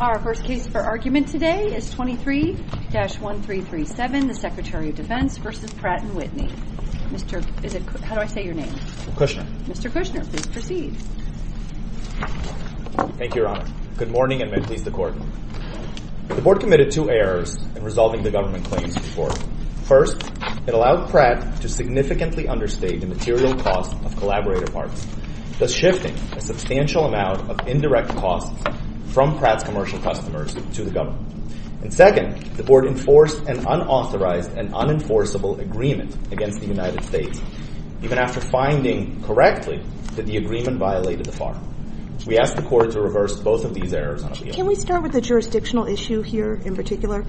Our first case for argument today is 23-1337, the Secretary of Defense v. Pratt & Whitney. Mr. Cushner, please proceed. Thank you, Your Honor. Good morning, and may it please the Court. The Board committed two errors in resolving the government claims report. First, it allowed Pratt to significantly understate the material cost of collaborator parts, thus shifting a substantial amount of indirect costs from Pratt's commercial customers to the government. And second, the Board enforced an unauthorized and unenforceable agreement against the United States, even after finding correctly that the agreement violated the FAR. We ask the Court to reverse both of these errors on appeal. Can we start with the jurisdictional issue here in particular?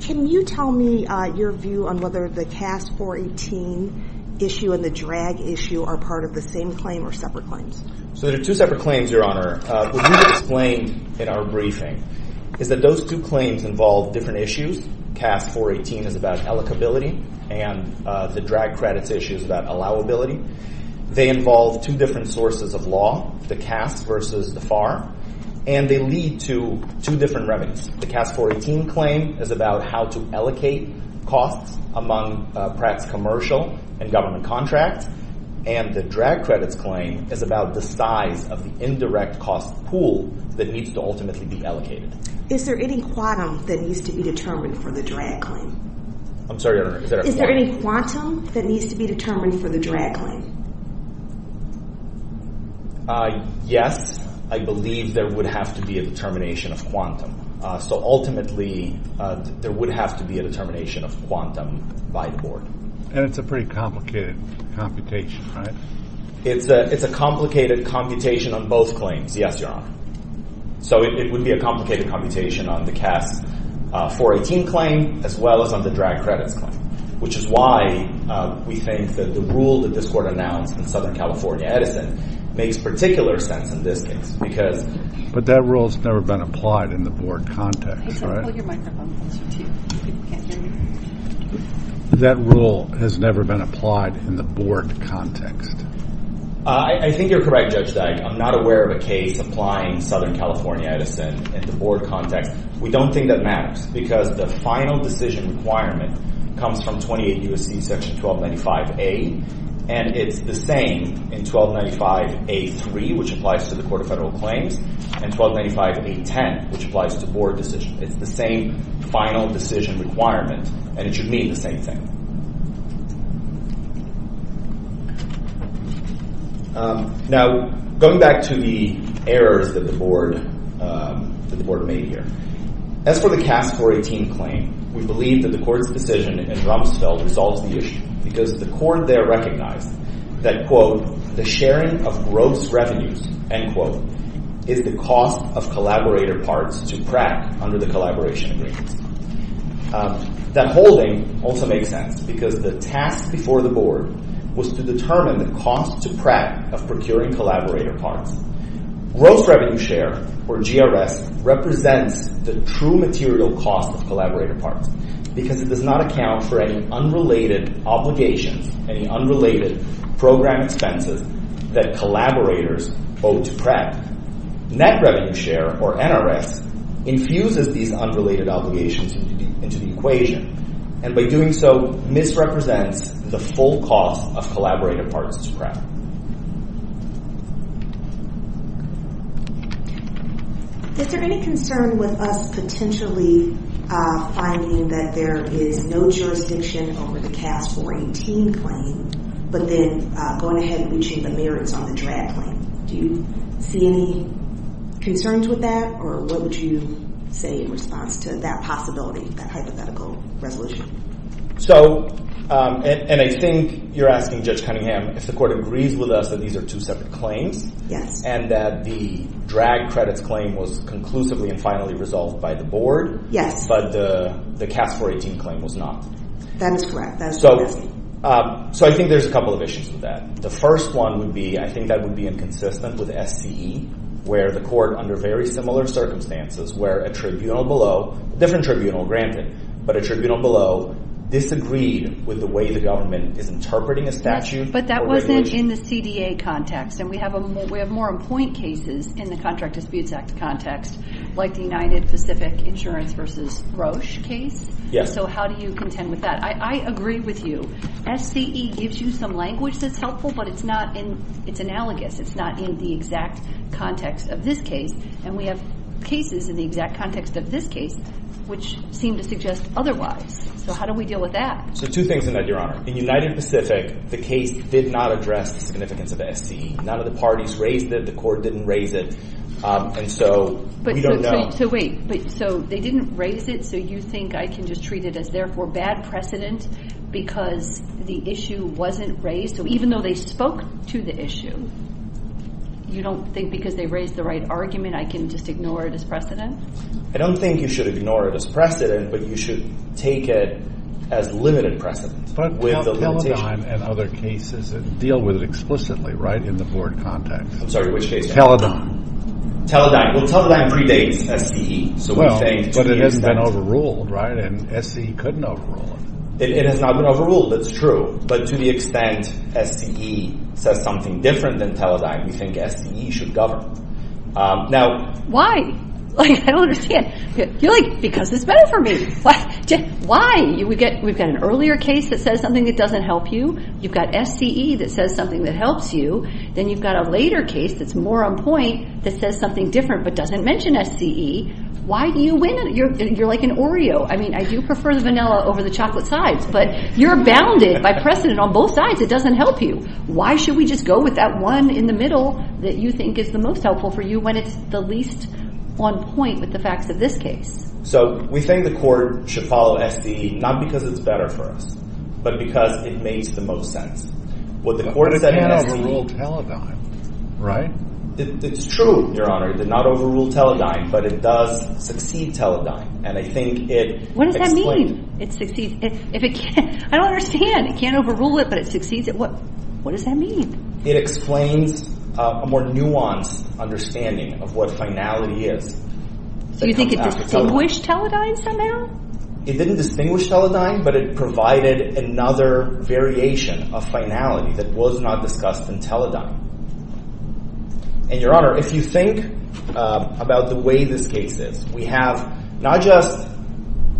Can you tell me your view on whether the CAS 418 issue and the drag issue are part of the same claim or separate claims? So there are two separate claims, Your Honor. What we've explained in our briefing is that those two claims involve different issues. CAS 418 is about allocability, and the drag credits issue is about allowability. They involve two different sources of law, the CAS versus the FAR, and they lead to two different remedies. The CAS 418 claim is about how to allocate costs among Pratt's commercial and government contracts, and the drag credits claim is about the size of the indirect cost pool that needs to ultimately be allocated. Is there any quantum that needs to be determined for the drag claim? I'm sorry, Your Honor. Is there any quantum that needs to be determined for the drag claim? Yes, I believe there would have to be a determination of quantum. So ultimately, there would have to be a determination of quantum by the Board. And it's a pretty complicated computation, right? It's a complicated computation on both claims, yes, Your Honor. So it would be a complicated computation on the CAS 418 claim as well as on the drag credits claim, which is why we think that the rule that this Court announced in Southern California Edison makes particular sense in this case. But that rule has never been applied in the Board context, right? That rule has never been applied in the Board context. I think you're correct, Judge Dagg. I'm not aware of a case applying Southern California Edison in the Board context. We don't think that matters because the final decision requirement comes from 28 U.S.C. section 1295A. And it's the same in 1295A.3, which applies to the Court of Federal Claims, and 1295A.10, which applies to Board decision. It's the same final decision requirement, and it should mean the same thing. Now, going back to the errors that the Board made here, as for the CAS 418 claim, we believe that the Court's decision in Rumsfeld resolves the issue because the Court there recognized that, quote, the sharing of gross revenues, end quote, is the cost of collaborator parts to crack under the collaboration agreements. That whole thing also makes sense because the task before the Board was to determine the cost to Pratt of procuring collaborator parts. Gross revenue share, or GRS, represents the true material cost of collaborator parts because it does not account for any unrelated obligations, any unrelated program expenses that collaborators owe to Pratt. Net revenue share, or NRS, infuses these unrelated obligations into the equation, and by doing so, misrepresents the full cost of collaborator parts to Pratt. Is there any concern with us potentially finding that there is no jurisdiction over the CAS 418 claim, but then going ahead and reaching the merits on the DRAD claim? Do you see any concerns with that, or what would you say in response to that possibility, that hypothetical resolution? So, and I think you're asking, Judge Cunningham, if the Court agrees with us that these are two separate claims. Yes. And that the DRAD credits claim was conclusively and finally resolved by the Board. Yes. But the CAS 418 claim was not. That is correct. That is correct. So I think there's a couple of issues with that. The first one would be I think that would be inconsistent with SCE, where the Court, under very similar circumstances, where a tribunal below – different tribunal, granted – but a tribunal below disagreed with the way the government is interpreting a statute or regulation. But that wasn't in the CDA context, and we have more on point cases in the Contract Disputes Act context, like the United Pacific Insurance v. Roche case. Yes. So how do you contend with that? I agree with you. SCE gives you some language that's helpful, but it's not in – it's analogous. It's not in the exact context of this case. And we have cases in the exact context of this case which seem to suggest otherwise. So how do we deal with that? So two things in that, Your Honor. In United Pacific, the case did not address the significance of SCE. None of the parties raised it. The Court didn't raise it. And so we don't know. So wait. So they didn't raise it, so you think I can just treat it as, therefore, bad precedent because the issue wasn't raised? So even though they spoke to the issue, you don't think because they raised the right argument I can just ignore it as precedent? I don't think you should ignore it as precedent, but you should take it as limited precedent with the limitation. But Teledyne and other cases deal with it explicitly, right, in the board context. I'm sorry. Which case? Teledyne. Teledyne. Well, Teledyne predates SCE. Well, but it hasn't been overruled, right? And SCE couldn't overrule it. It has not been overruled. It's true. But to the extent SCE says something different than Teledyne, we think SCE should govern. Why? I don't understand. You're like, because it's better for me. Why? We've got an earlier case that says something that doesn't help you. You've got SCE that says something that helps you. Then you've got a later case that's more on point that says something different but doesn't mention SCE. Why do you win? You're like an Oreo. I mean, I do prefer the vanilla over the chocolate sides, but you're bounded by precedent on both sides. It doesn't help you. Why should we just go with that one in the middle that you think is the most helpful for you when it's the least on point with the facts of this case? So we think the court should follow SCE not because it's better for us but because it makes the most sense. But it can't overrule Teledyne, right? It's true, Your Honor. It did not overrule Teledyne, but it does succeed Teledyne. What does that mean? I don't understand. It can't overrule it, but it succeeds it. What does that mean? It explains a more nuanced understanding of what finality is. So you think it distinguished Teledyne somehow? It didn't distinguish Teledyne, but it provided another variation of finality that was not discussed in Teledyne. And, Your Honor, if you think about the way this case is, we have not just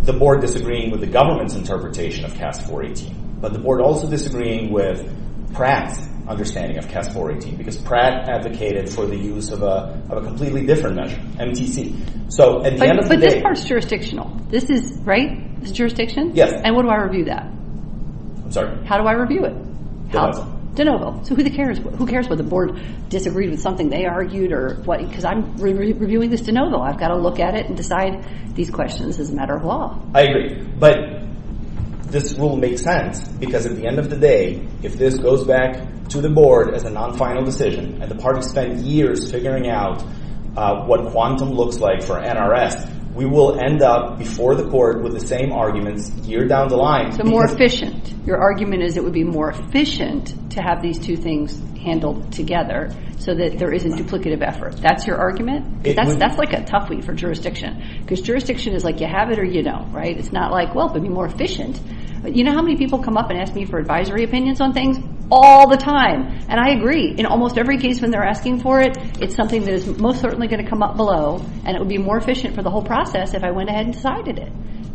the board disagreeing with the government's interpretation of CAST 418, but the board also disagreeing with Pratt's understanding of CAST 418 because Pratt advocated for the use of a completely different measure, MTC. But this part is jurisdictional. This is – right? This is jurisdiction? Yes. And what do I review that? I'm sorry? How do I review it? How? De novo. So who cares whether the board disagreed with something they argued or what – because I'm reviewing this de novo. I've got to look at it and decide these questions as a matter of law. I agree. But this rule makes sense because at the end of the day, if this goes back to the board as a non-final decision and the parties spend years figuring out what quantum looks like for NRS, we will end up before the court with the same arguments year down the line. So more efficient. Your argument is it would be more efficient to have these two things handled together so that there isn't duplicative effort. That's your argument? That's like a toughie for jurisdiction because jurisdiction is like you have it or you don't, right? It's not like, well, it would be more efficient. You know how many people come up and ask me for advisory opinions on things? All the time. And I agree. In almost every case when they're asking for it, it's something that is most certainly going to come up below and it would be more efficient for the whole process if I went ahead and decided it.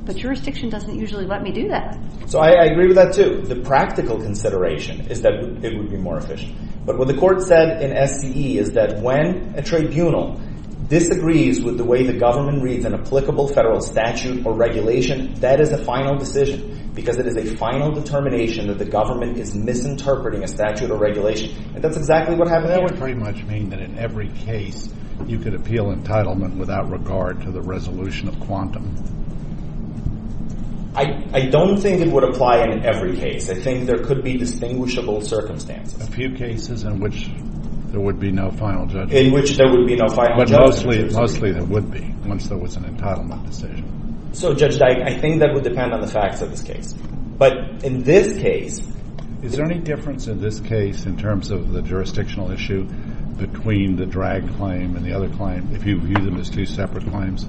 But jurisdiction doesn't usually let me do that. So I agree with that, too. The practical consideration is that it would be more efficient. But what the court said in SCE is that when a tribunal disagrees with the way the government reads an applicable federal statute or regulation, that is a final decision because it is a final determination that the government is misinterpreting a statute or regulation. And that's exactly what happened there. That would pretty much mean that in every case you could appeal entitlement without regard to the resolution of quantum. I don't think it would apply in every case. I think there could be distinguishable circumstances. A few cases in which there would be no final judgment. In which there would be no final judgment. But mostly there would be once there was an entitlement decision. So, Judge, I think that would depend on the facts of this case. But in this case. Is there any difference in this case in terms of the jurisdictional issue between the drag claim and the other claim if you view them as two separate claims?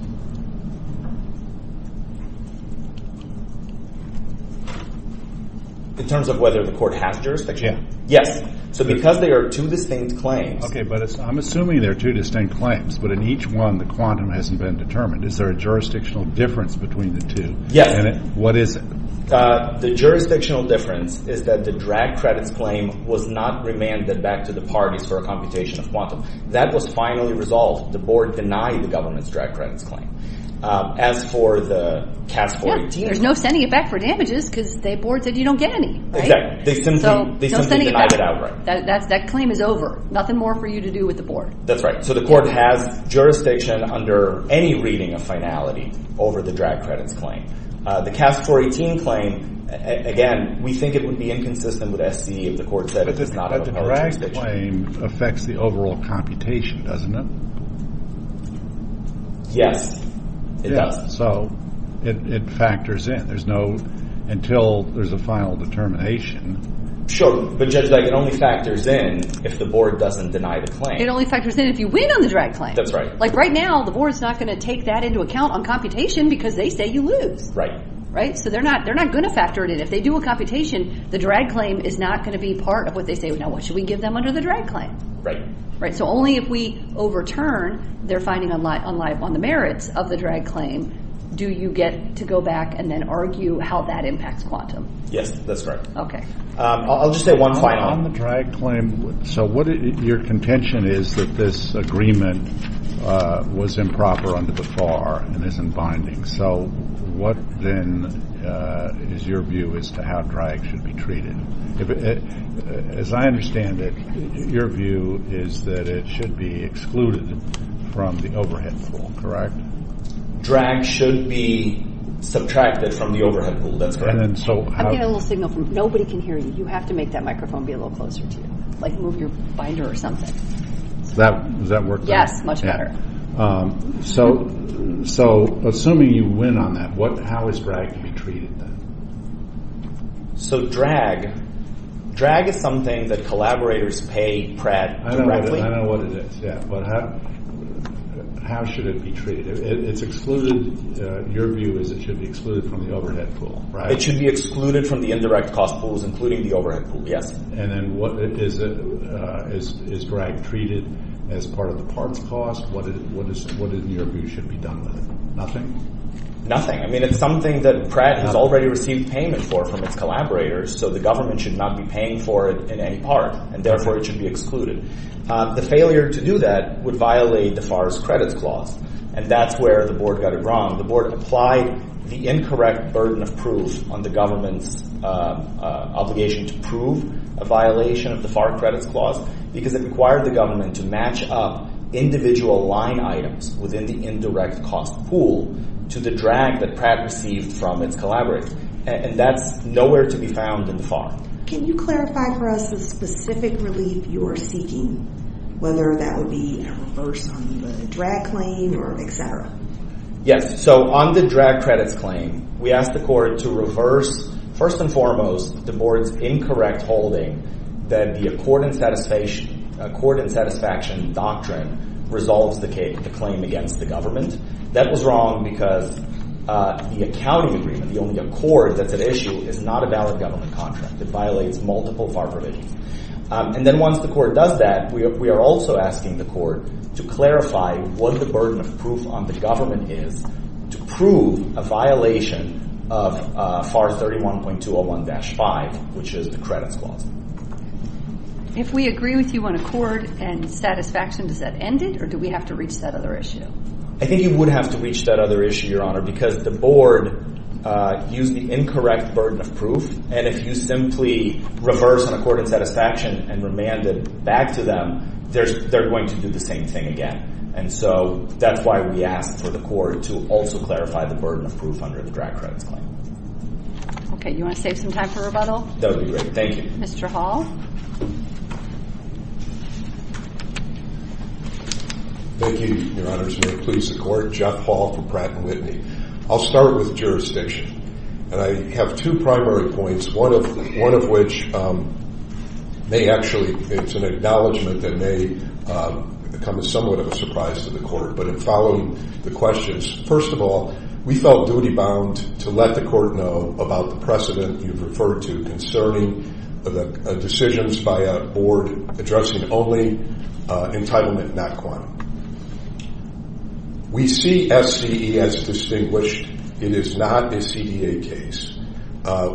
In terms of whether the court has jurisdiction? Yes. So because there are two distinct claims. Okay. But I'm assuming there are two distinct claims. But in each one the quantum hasn't been determined. Is there a jurisdictional difference between the two? Yes. And what is it? The jurisdictional difference is that the drag credits claim was not remanded back to the parties for a computation of quantum. That was finally resolved. The board denied the government's drag credits claim. As for the CAS 42. There's no sending it back for damages because the board said you don't get any. Exactly. They simply denied it outright. That claim is over. Nothing more for you to do with the board. That's right. So the court has jurisdiction under any reading of finality over the drag credits claim. The CAS 418 claim, again, we think it would be inconsistent with SCE if the court said it does not have jurisdiction. But the drag claim affects the overall computation, doesn't it? Yes. It does. So it factors in. There's no until there's a final determination. Sure. But, Judge, it only factors in if the board doesn't deny the claim. It only factors in if you win on the drag claim. That's right. Like, right now, the board's not going to take that into account on computation because they say you lose. Right. Right? So they're not going to factor it in. If they do a computation, the drag claim is not going to be part of what they say. Now, what should we give them under the drag claim? Right. So only if we overturn their finding on the merits of the drag claim do you get to go back and then argue how that impacts quantum. Yes, that's correct. Okay. I'll just say one final. On the drag claim, so your contention is that this agreement was improper under the FAR and isn't binding. So what, then, is your view as to how drag should be treated? As I understand it, your view is that it should be excluded from the overhead pool, correct? Drag should be subtracted from the overhead pool. That's correct. I'm getting a little signal from you. Nobody can hear you. You have to make that microphone be a little closer to you, like move your binder or something. Does that work? Yes. Much better. So assuming you win on that, how is drag to be treated, then? So drag is something that collaborators pay Pratt directly. I know what it is, yeah. But how should it be treated? It's excluded. Your view is it should be excluded from the overhead pool, right? It should be excluded from the indirect cost pools, including the overhead pool, yes. And then is drag treated as part of the parts cost? What, in your view, should be done with it? Nothing? Nothing. I mean, it's something that Pratt has already received payment for from its collaborators, so the government should not be paying for it in any part, and therefore it should be excluded. The failure to do that would violate the FAR's credits clause, and that's where the board got it wrong. The board applied the incorrect burden of proof on the government's obligation to prove a violation of the FAR credits clause because it required the government to match up individual line items within the indirect cost pool to the drag that Pratt received from its collaborator, and that's nowhere to be found in the FAR. Can you clarify for us the specific relief you are seeking, whether that would be a reverse on the drag claim or et cetera? Yes. So on the drag credits claim, we asked the court to reverse, first and foremost, the board's incorrect holding that the accord and satisfaction doctrine resolves the claim against the government. That was wrong because the accounting agreement, the only accord that's at issue, is not a valid government contract. It violates multiple FAR provisions. And then once the court does that, we are also asking the court to clarify what the burden of proof on the government is to prove a violation of FAR 31.201-5, which is the credits clause. If we agree with you on accord and satisfaction, does that end it, or do we have to reach that other issue? I think you would have to reach that other issue, Your Honor, because the board used the incorrect burden of proof, and if you simply reverse an accord and satisfaction and remand it back to them, they're going to do the same thing again. And so that's why we asked for the court to also clarify the burden of proof under the drag credits claim. Okay. You want to save some time for rebuttal? That would be great. Thank you. Mr. Hall? Thank you, Your Honor. Please support Jeff Hall for Pratt & Whitney. I'll start with jurisdiction. And I have two primary points, one of which may actually, it's an acknowledgment that may come as somewhat of a surprise to the court. But in following the questions, first of all, we felt duty-bound to let the court know about the precedent you've referred to concerning the decisions by a board addressing only entitlement not quantity. We see SCE as distinguished. It is not a CDA case.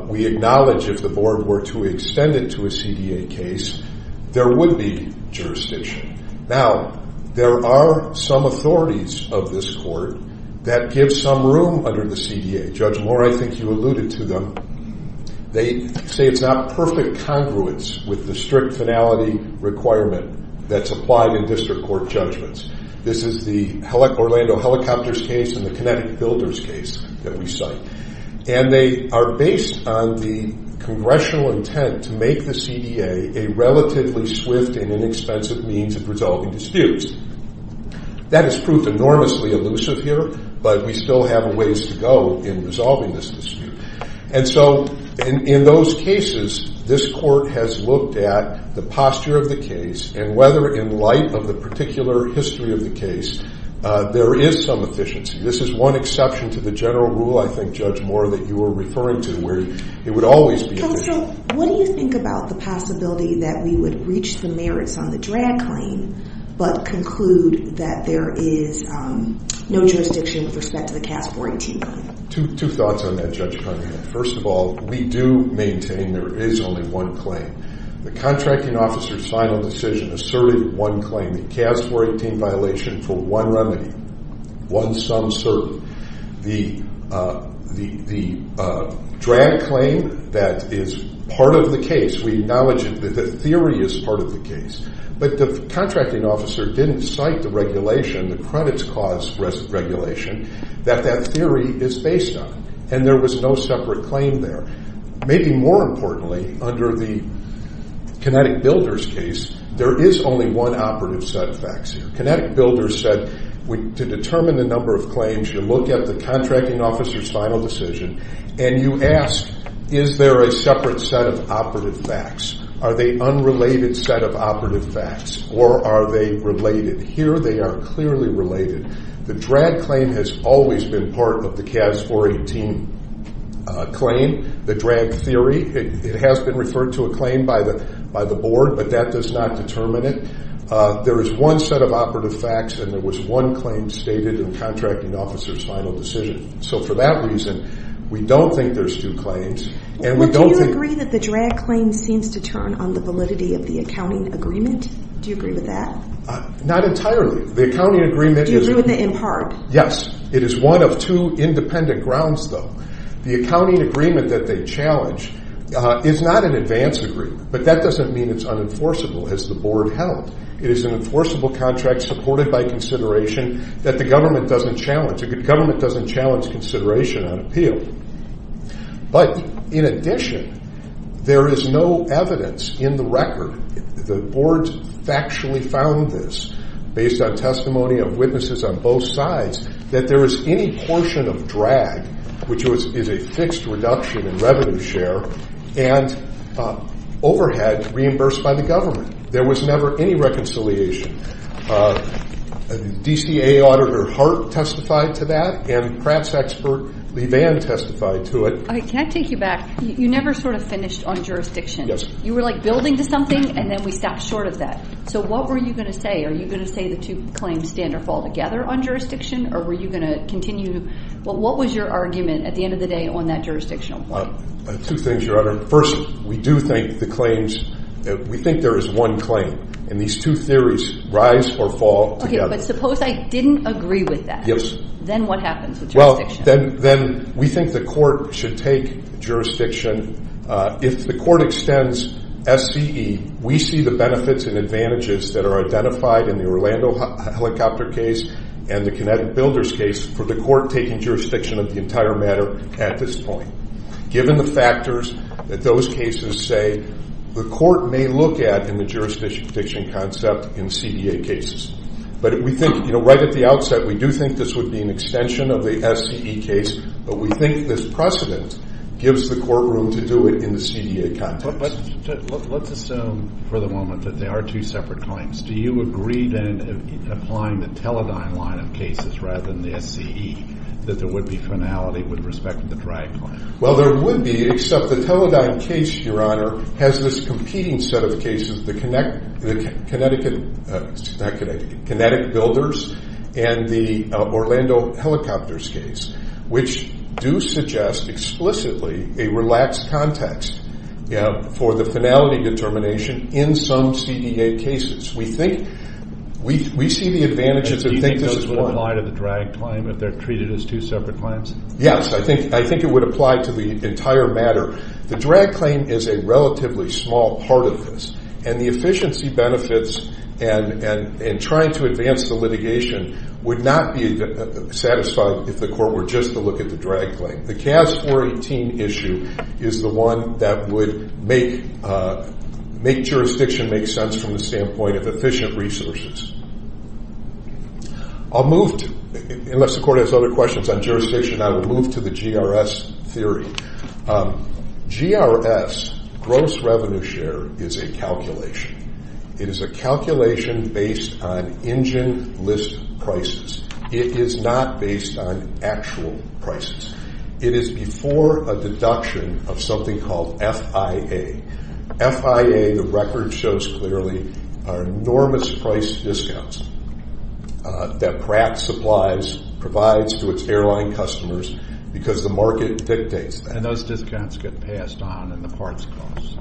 We acknowledge if the board were to extend it to a CDA case, there would be jurisdiction. Now, there are some authorities of this court that give some room under the CDA. Judge Moore, I think you alluded to them. They say it's not perfect congruence with the strict finality requirement that's applied in district court judgments. This is the Orlando Helicopters case and the Kinetic Builders case that we cite. And they are based on the congressional intent to make the CDA a relatively swift and inexpensive means of resolving disputes. That is proof enormously elusive here, but we still have a ways to go in resolving this dispute. And so in those cases, this court has looked at the posture of the case and whether, in light of the particular history of the case, there is some efficiency. This is one exception to the general rule, I think, Judge Moore, that you were referring to where it would always be efficient. Counsel, what do you think about the possibility that we would reach the merits on the drag claim but conclude that there is no jurisdiction with respect to the CAS 14 claim? Two thoughts on that, Judge Cunningham. First of all, we do maintain there is only one claim. The contracting officer's final decision asserted one claim, the CAS 14 violation for one remedy, one sum certain. The drag claim, that is part of the case. We acknowledge that the theory is part of the case, but the contracting officer didn't cite the regulation, the credits cause regulation, that that theory is based on, and there was no separate claim there. Maybe more importantly, under the Kinetic Builders case, there is only one operative set of facts here. Kinetic Builders said to determine the number of claims, you look at the contracting officer's final decision, and you ask, is there a separate set of operative facts? Are they unrelated set of operative facts, or are they related? And here they are clearly related. The drag claim has always been part of the CAS 418 claim, the drag theory. It has been referred to a claim by the board, but that does not determine it. There is one set of operative facts, and there was one claim stated in the contracting officer's final decision. So for that reason, we don't think there's two claims. Well, do you agree that the drag claim seems to turn on the validity of the accounting agreement? Do you agree with that? Not entirely. Do you agree with it in part? Yes. It is one of two independent grounds, though. The accounting agreement that they challenge is not an advance agreement, but that doesn't mean it's unenforceable as the board held. It is an enforceable contract supported by consideration that the government doesn't challenge. The government doesn't challenge consideration on appeal. But in addition, there is no evidence in the record. The board factually found this, based on testimony of witnesses on both sides, that there is any portion of drag, which is a fixed reduction in revenue share, and overhead reimbursed by the government. There was never any reconciliation. DCA auditor Hart testified to that, and Pratt's expert, Levan, testified to it. Can I take you back? You never sort of finished on jurisdiction. Yes. You were like building to something, and then we stopped short of that. So what were you going to say? Are you going to say the two claims stand or fall together on jurisdiction, or were you going to continue? What was your argument at the end of the day on that jurisdictional point? Two things, Your Honor. First, we do think the claims, we think there is one claim, and these two theories rise or fall together. Okay, but suppose I didn't agree with that. Yes. Then what happens with jurisdiction? Well, then we think the court should take jurisdiction. If the court extends SCE, we see the benefits and advantages that are identified in the Orlando helicopter case and the Connecticut builders case for the court taking jurisdiction of the entire matter at this point, given the factors that those cases say the court may look at in the jurisdiction concept in CEA cases. But we think, you know, right at the outset, we do think this would be an extension of the SCE case, but we think this precedent gives the courtroom to do it in the CEA context. But let's assume for the moment that they are two separate claims. Do you agree, then, applying the Teledyne line of cases rather than the SCE, that there would be finality with respect to the drag claim? Well, there would be, except the Teledyne case, Your Honor, has this competing set of cases, the Connecticut builders and the Orlando helicopters case, which do suggest explicitly a relaxed context for the finality determination in some CEA cases. We think we see the advantages. Do you think those would apply to the drag claim if they're treated as two separate claims? Yes, I think it would apply to the entire matter. The drag claim is a relatively small part of this, and the efficiency benefits and trying to advance the litigation would not be satisfied if the court were just to look at the drag claim. The CAS 418 issue is the one that would make jurisdiction make sense from the standpoint of efficient resources. Unless the court has other questions on jurisdiction, I will move to the GRS theory. GRS, gross revenue share, is a calculation. It is a calculation based on engine list prices. It is not based on actual prices. It is before a deduction of something called FIA. FIA, the record shows clearly, are enormous price discounts that Pratt Supplies provides to its airline customers because the market dictates that. And those discounts get passed on in the parts cost.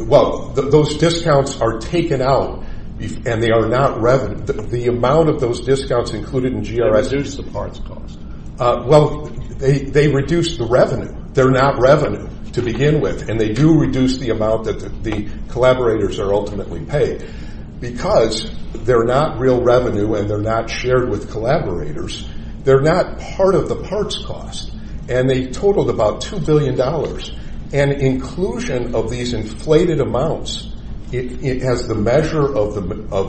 Well, those discounts are taken out, and they are not revenue. The amount of those discounts included in GRS... They reduce the parts cost. Well, they reduce the revenue. They're not revenue to begin with, and they do reduce the amount that the collaborators are ultimately paid. Because they're not real revenue and they're not shared with collaborators, they're not part of the parts cost, and they totaled about $2 billion. And inclusion of these inflated amounts as the measure of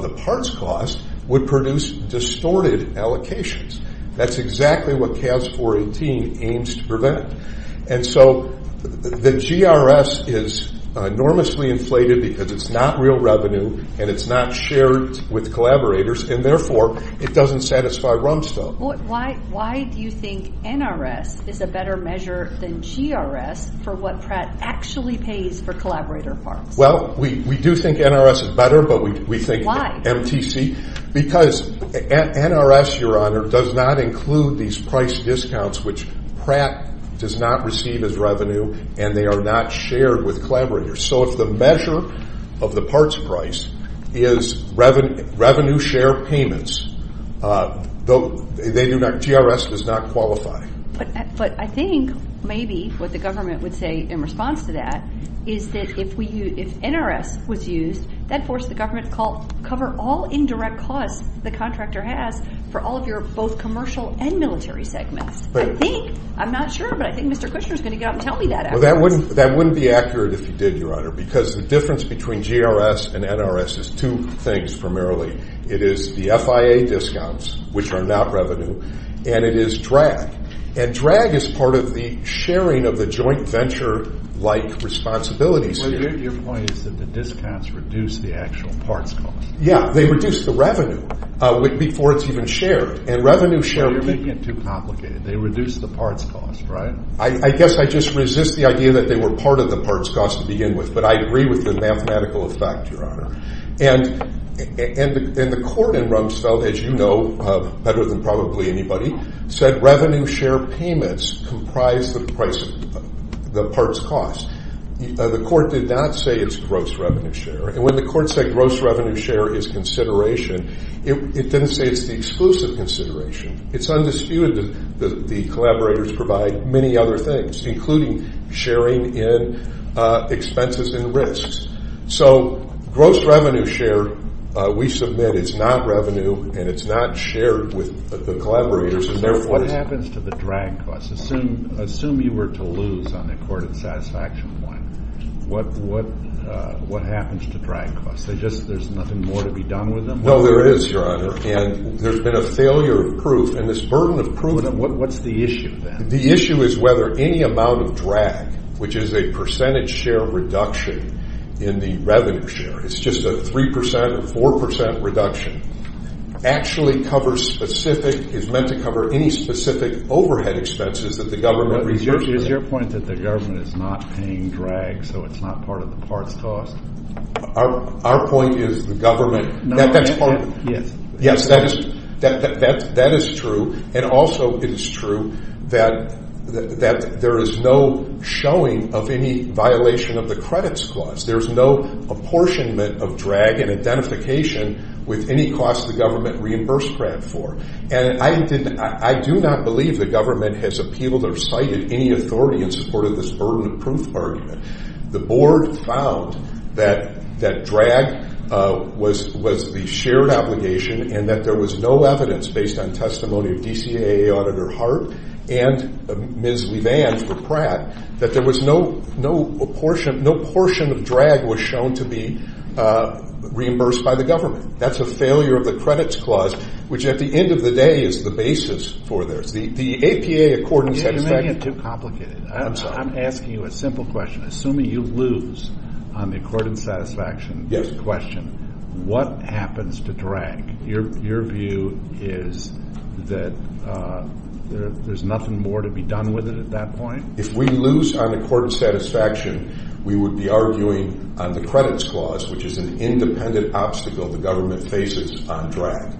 the parts cost would produce distorted allocations. That's exactly what CAS 418 aims to prevent. And so the GRS is enormously inflated because it's not real revenue and it's not shared with collaborators, and therefore it doesn't satisfy RUMSTO. Why do you think NRS is a better measure than GRS for what Pratt actually pays for collaborator parts? Well, we do think NRS is better, but we think MTC... Because NRS, Your Honor, does not include these price discounts, which Pratt does not receive as revenue and they are not shared with collaborators. So if the measure of the parts price is revenue share payments, GRS does not qualify. But I think maybe what the government would say in response to that is that if NRS was used, that forced the government to cover all indirect costs the contractor has for all of your both commercial and military segments. I think, I'm not sure, but I think Mr. Kushner is going to get up and tell me that afterwards. Well, that wouldn't be accurate if you did, Your Honor, because the difference between GRS and NRS is two things primarily. It is the FIA discounts, which are not revenue, and it is drag. And drag is part of the sharing of the joint venture-like responsibilities here. Your point is that the discounts reduce the actual parts cost. Yeah, they reduce the revenue before it's even shared, and revenue share... Well, you're making it too complicated. They reduce the parts cost, right? I guess I just resist the idea that they were part of the parts cost to begin with, but I agree with the mathematical effect, Your Honor. And the court in Rumsfeld, as you know better than probably anybody, said revenue share payments comprise the parts cost. The court did not say it's gross revenue share. And when the court said gross revenue share is consideration, it didn't say it's the exclusive consideration. It's undisputed that the collaborators provide many other things, including sharing in expenses and risks. So gross revenue share, we submit it's not revenue and it's not shared with the collaborators, and therefore... What happens to the drag costs? Assume you were to lose on the accorded satisfaction point. What happens to drag costs? There's nothing more to be done with them? No, there is, Your Honor. And there's been a failure of proof, and this burden of proof... What's the issue then? The issue is whether any amount of drag, which is a percentage share reduction in the revenue share, it's just a 3% or 4% reduction, actually covers specific, is meant to cover any specific overhead expenses that the government... Is your point that the government is not paying drag so it's not part of the parts cost? Our point is the government... Yes, that is true. And also it is true that there is no showing of any violation of the credits clause. There is no apportionment of drag and identification with any cost the government reimbursed DRAG for. And I do not believe the government has appealed or cited any authority in support of this burden of proof argument. The board found that drag was the shared obligation and that there was no evidence based on testimony of DCAA Auditor Hart and Ms. Levan for Pratt that there was no portion of drag was shown to be reimbursed by the government. That's a failure of the credits clause, which at the end of the day is the basis for this. The APA accordance... You're making it too complicated. I'm sorry. I'm asking you a simple question. Assuming you lose on the accordance satisfaction question, what happens to drag? Your view is that there's nothing more to be done with it at that point? If we lose on accordance satisfaction, we would be arguing on the credits clause, which is an independent obstacle the government faces on drag.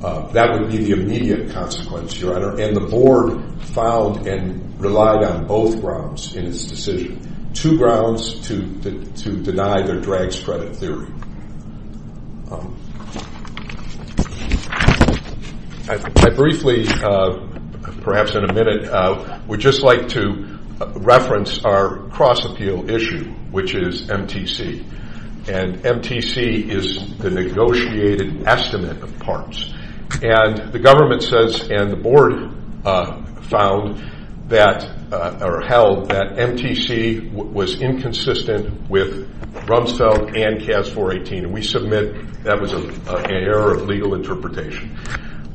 That would be the immediate consequence, Your Honor. And the board filed and relied on both grounds in its decision. Two grounds to deny their drag's credit theory. I briefly, perhaps in a minute, would just like to reference our cross-appeal issue, which is MTC. And MTC is the negotiated estimate of parts. And the government says and the board held that MTC was inconsistent with Rumsfeld and CAS 418. And we submit that was an error of legal interpretation.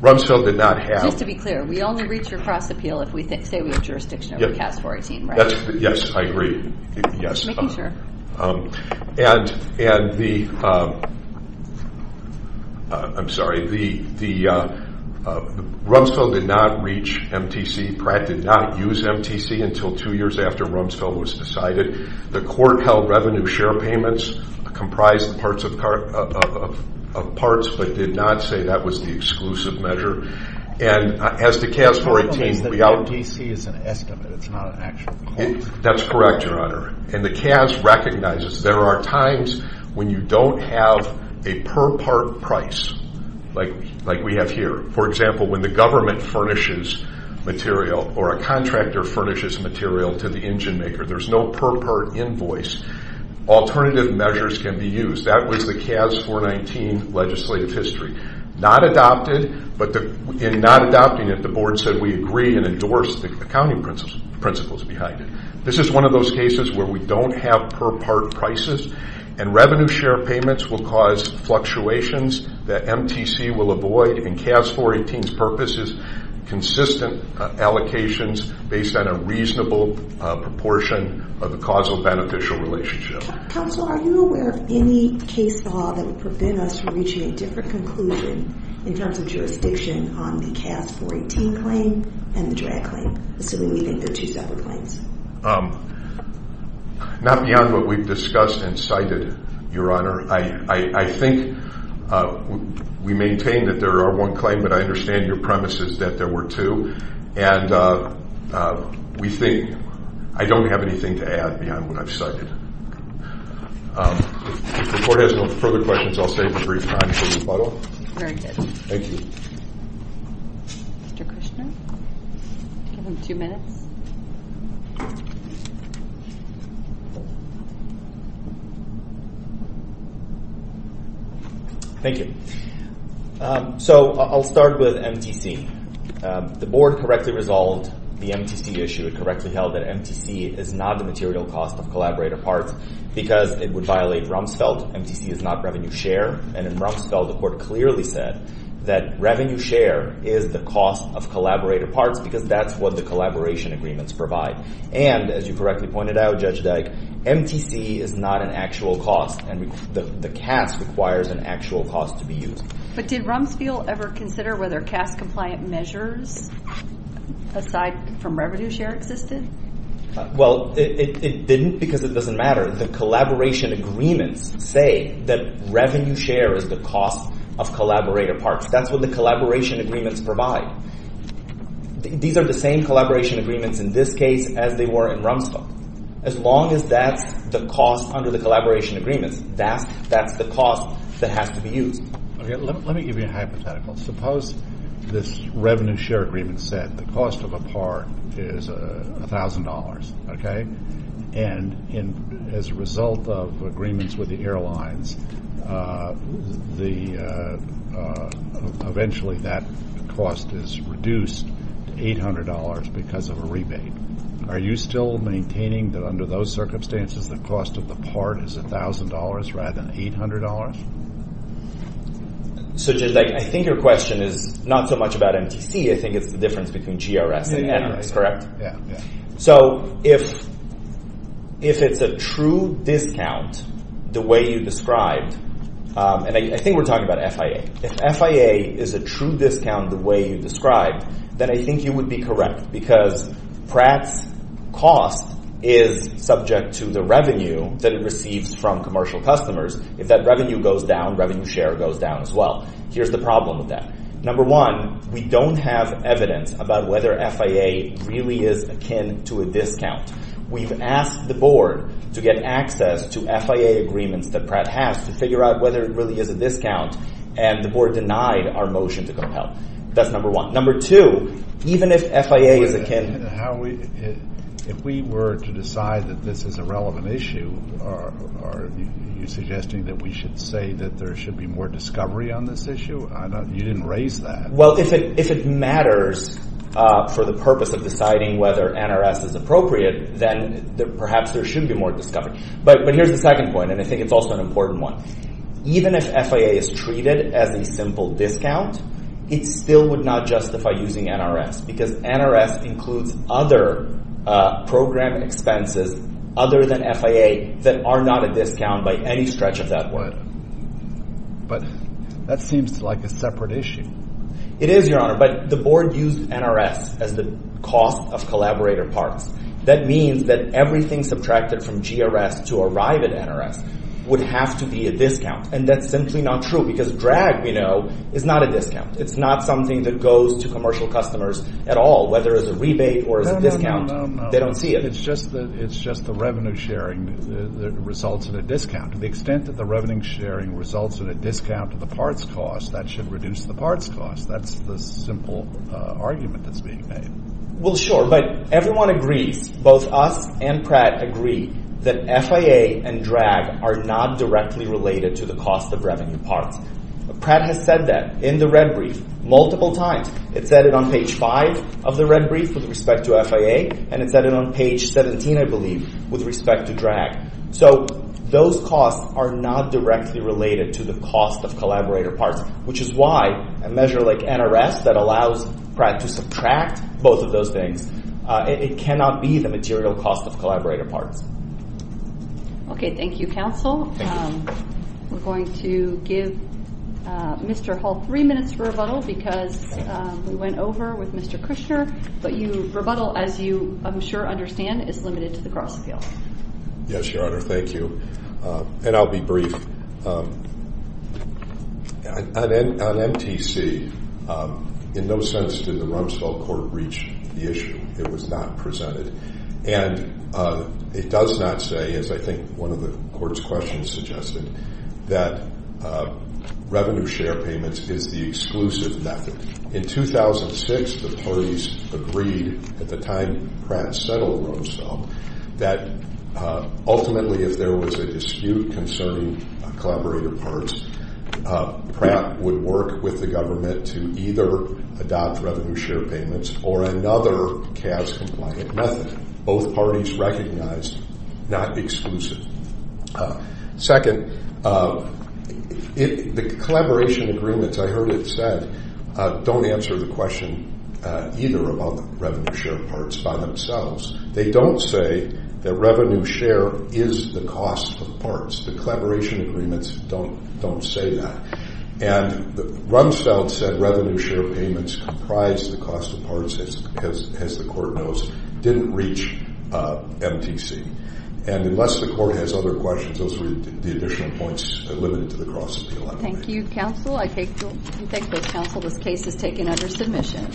Rumsfeld did not have... Just to be clear, we only reach your cross-appeal if we say we have jurisdiction over CAS 418, right? Yes, I agree. Making sure. And the... I'm sorry. The... Rumsfeld did not reach MTC. Pratt did not use MTC until two years after Rumsfeld was decided. The court held revenue share payments comprised parts of parts, but did not say that was the exclusive measure. And as to CAS 418... The problem is that MTC is an estimate. It's not an actual clause. That's correct, Your Honor. And the CAS recognizes there are times when you don't have a per-part price like we have here. For example, when the government furnishes material or a contractor furnishes material to the engine maker, there's no per-part invoice. Alternative measures can be used. That was the CAS 419 legislative history. Not adopted, but in not adopting it, the board said we agree and endorsed the accounting principles behind it. This is one of those cases where we don't have per-part prices, and revenue share payments will cause fluctuations that MTC will avoid. And CAS 418's purpose is consistent allocations based on a reasonable proportion of the causal beneficial relationship. Counsel, are you aware of any case law that would prevent us from reaching a different conclusion in terms of jurisdiction on the CAS 418 claim and the drag claim, assuming we think they're two separate claims? Not beyond what we've discussed and cited, Your Honor. I think we maintain that there are one claim, but I understand your premise is that there were two. And we think I don't have anything to add beyond what I've cited. If the Court has no further questions, I'll save the brief time for rebuttal. Very good. Thank you. Mr. Kushner, you have two minutes. Thank you. So I'll start with MTC. The board correctly resolved the MTC issue. It correctly held that MTC is not the material cost of collaborator parts because it would violate Rumsfeld. MTC is not revenue share. And in Rumsfeld, the Court clearly said that revenue share is the cost of collaborator parts because that's what the collaboration agreements provide. And as you correctly pointed out, Judge Dyke, MTC is not an actual cost, and the CAS requires an actual cost to be used. But did Rumsfeld ever consider whether CAS-compliant measures, aside from revenue share, existed? Well, it didn't because it doesn't matter. The collaboration agreements say that revenue share is the cost of collaborator parts. That's what the collaboration agreements provide. These are the same collaboration agreements in this case as they were in Rumsfeld. As long as that's the cost under the collaboration agreements, that's the cost that has to be used. Let me give you a hypothetical. Suppose this revenue share agreement said the cost of a part is $1,000, okay? And as a result of agreements with the airlines, eventually that cost is reduced to $800 because of a rebate. Are you still maintaining that under those circumstances the cost of the part is $1,000 rather than $800? So, Judge Dyke, I think your question is not so much about MTC. I think it's the difference between GRS and NRS, correct? So, if it's a true discount the way you described, and I think we're talking about FIA. If FIA is a true discount the way you described, then I think you would be correct because Pratt's cost is subject to the revenue that it receives from commercial customers. If that revenue goes down, revenue share goes down as well. Here's the problem with that. Number one, we don't have evidence about whether FIA really is akin to a discount. We've asked the board to get access to FIA agreements that Pratt has to figure out whether it really is a discount, and the board denied our motion to compel. That's number one. If we were to decide that this is a relevant issue, are you suggesting that we should say that there should be more discovery on this issue? You didn't raise that. Well, if it matters for the purpose of deciding whether NRS is appropriate, then perhaps there should be more discovery. But here's the second point, and I think it's also an important one. Even if FIA is treated as a simple discount, it still would not justify using NRS because NRS includes other program expenses other than FIA that are not a discount by any stretch of that word. But that seems like a separate issue. It is, Your Honor, but the board used NRS as the cost of collaborator parts. That means that everything subtracted from GRS to arrive at NRS would have to be a discount, and that's simply not true because drag, we know, is not a discount. It's not something that goes to commercial customers at all, whether as a rebate or as a discount. No, no, no, no. They don't see it. It's just the revenue sharing that results in a discount. To the extent that the revenue sharing results in a discount to the parts cost, that should reduce the parts cost. That's the simple argument that's being made. Well, sure, but everyone agrees, both us and Pratt agree, that FIA and drag are not directly related to the cost of revenue parts. Pratt has said that in the red brief multiple times. It said it on page 5 of the red brief with respect to FIA, and it said it on page 17, I believe, with respect to drag. So those costs are not directly related to the cost of collaborator parts, which is why a measure like NRS that allows Pratt to subtract both of those things, it cannot be the material cost of collaborator parts. Okay. Thank you, counsel. Thank you. We're going to give Mr. Hull three minutes for rebuttal because we went over with Mr. Kushner. But your rebuttal, as you, I'm sure, understand, is limited to the cross-appeal. Yes, Your Honor. Thank you. And I'll be brief. On MTC, in no sense did the Rumsfeld Court reach the issue. It was not presented. And it does not say, as I think one of the Court's questions suggested, that revenue share payments is the exclusive method. In 2006, the parties agreed, at the time Pratt settled Rumsfeld, that ultimately if there was a dispute concerning collaborator parts, Pratt would work with the government to either adopt revenue share payments or another CAS-compliant method. Both parties recognized not exclusive. Second, the collaboration agreements, I heard it said, don't answer the question either about the revenue share parts by themselves. They don't say that revenue share is the cost of parts. The collaboration agreements don't say that. And Rumsfeld said revenue share payments comprised the cost of parts, as the Court knows, didn't reach MTC. And unless the Court has other questions, those were the additional points limited to the cross-appeal. Thank you, Counsel. I thank both Counsel. This case is taken under submission.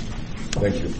Thank you.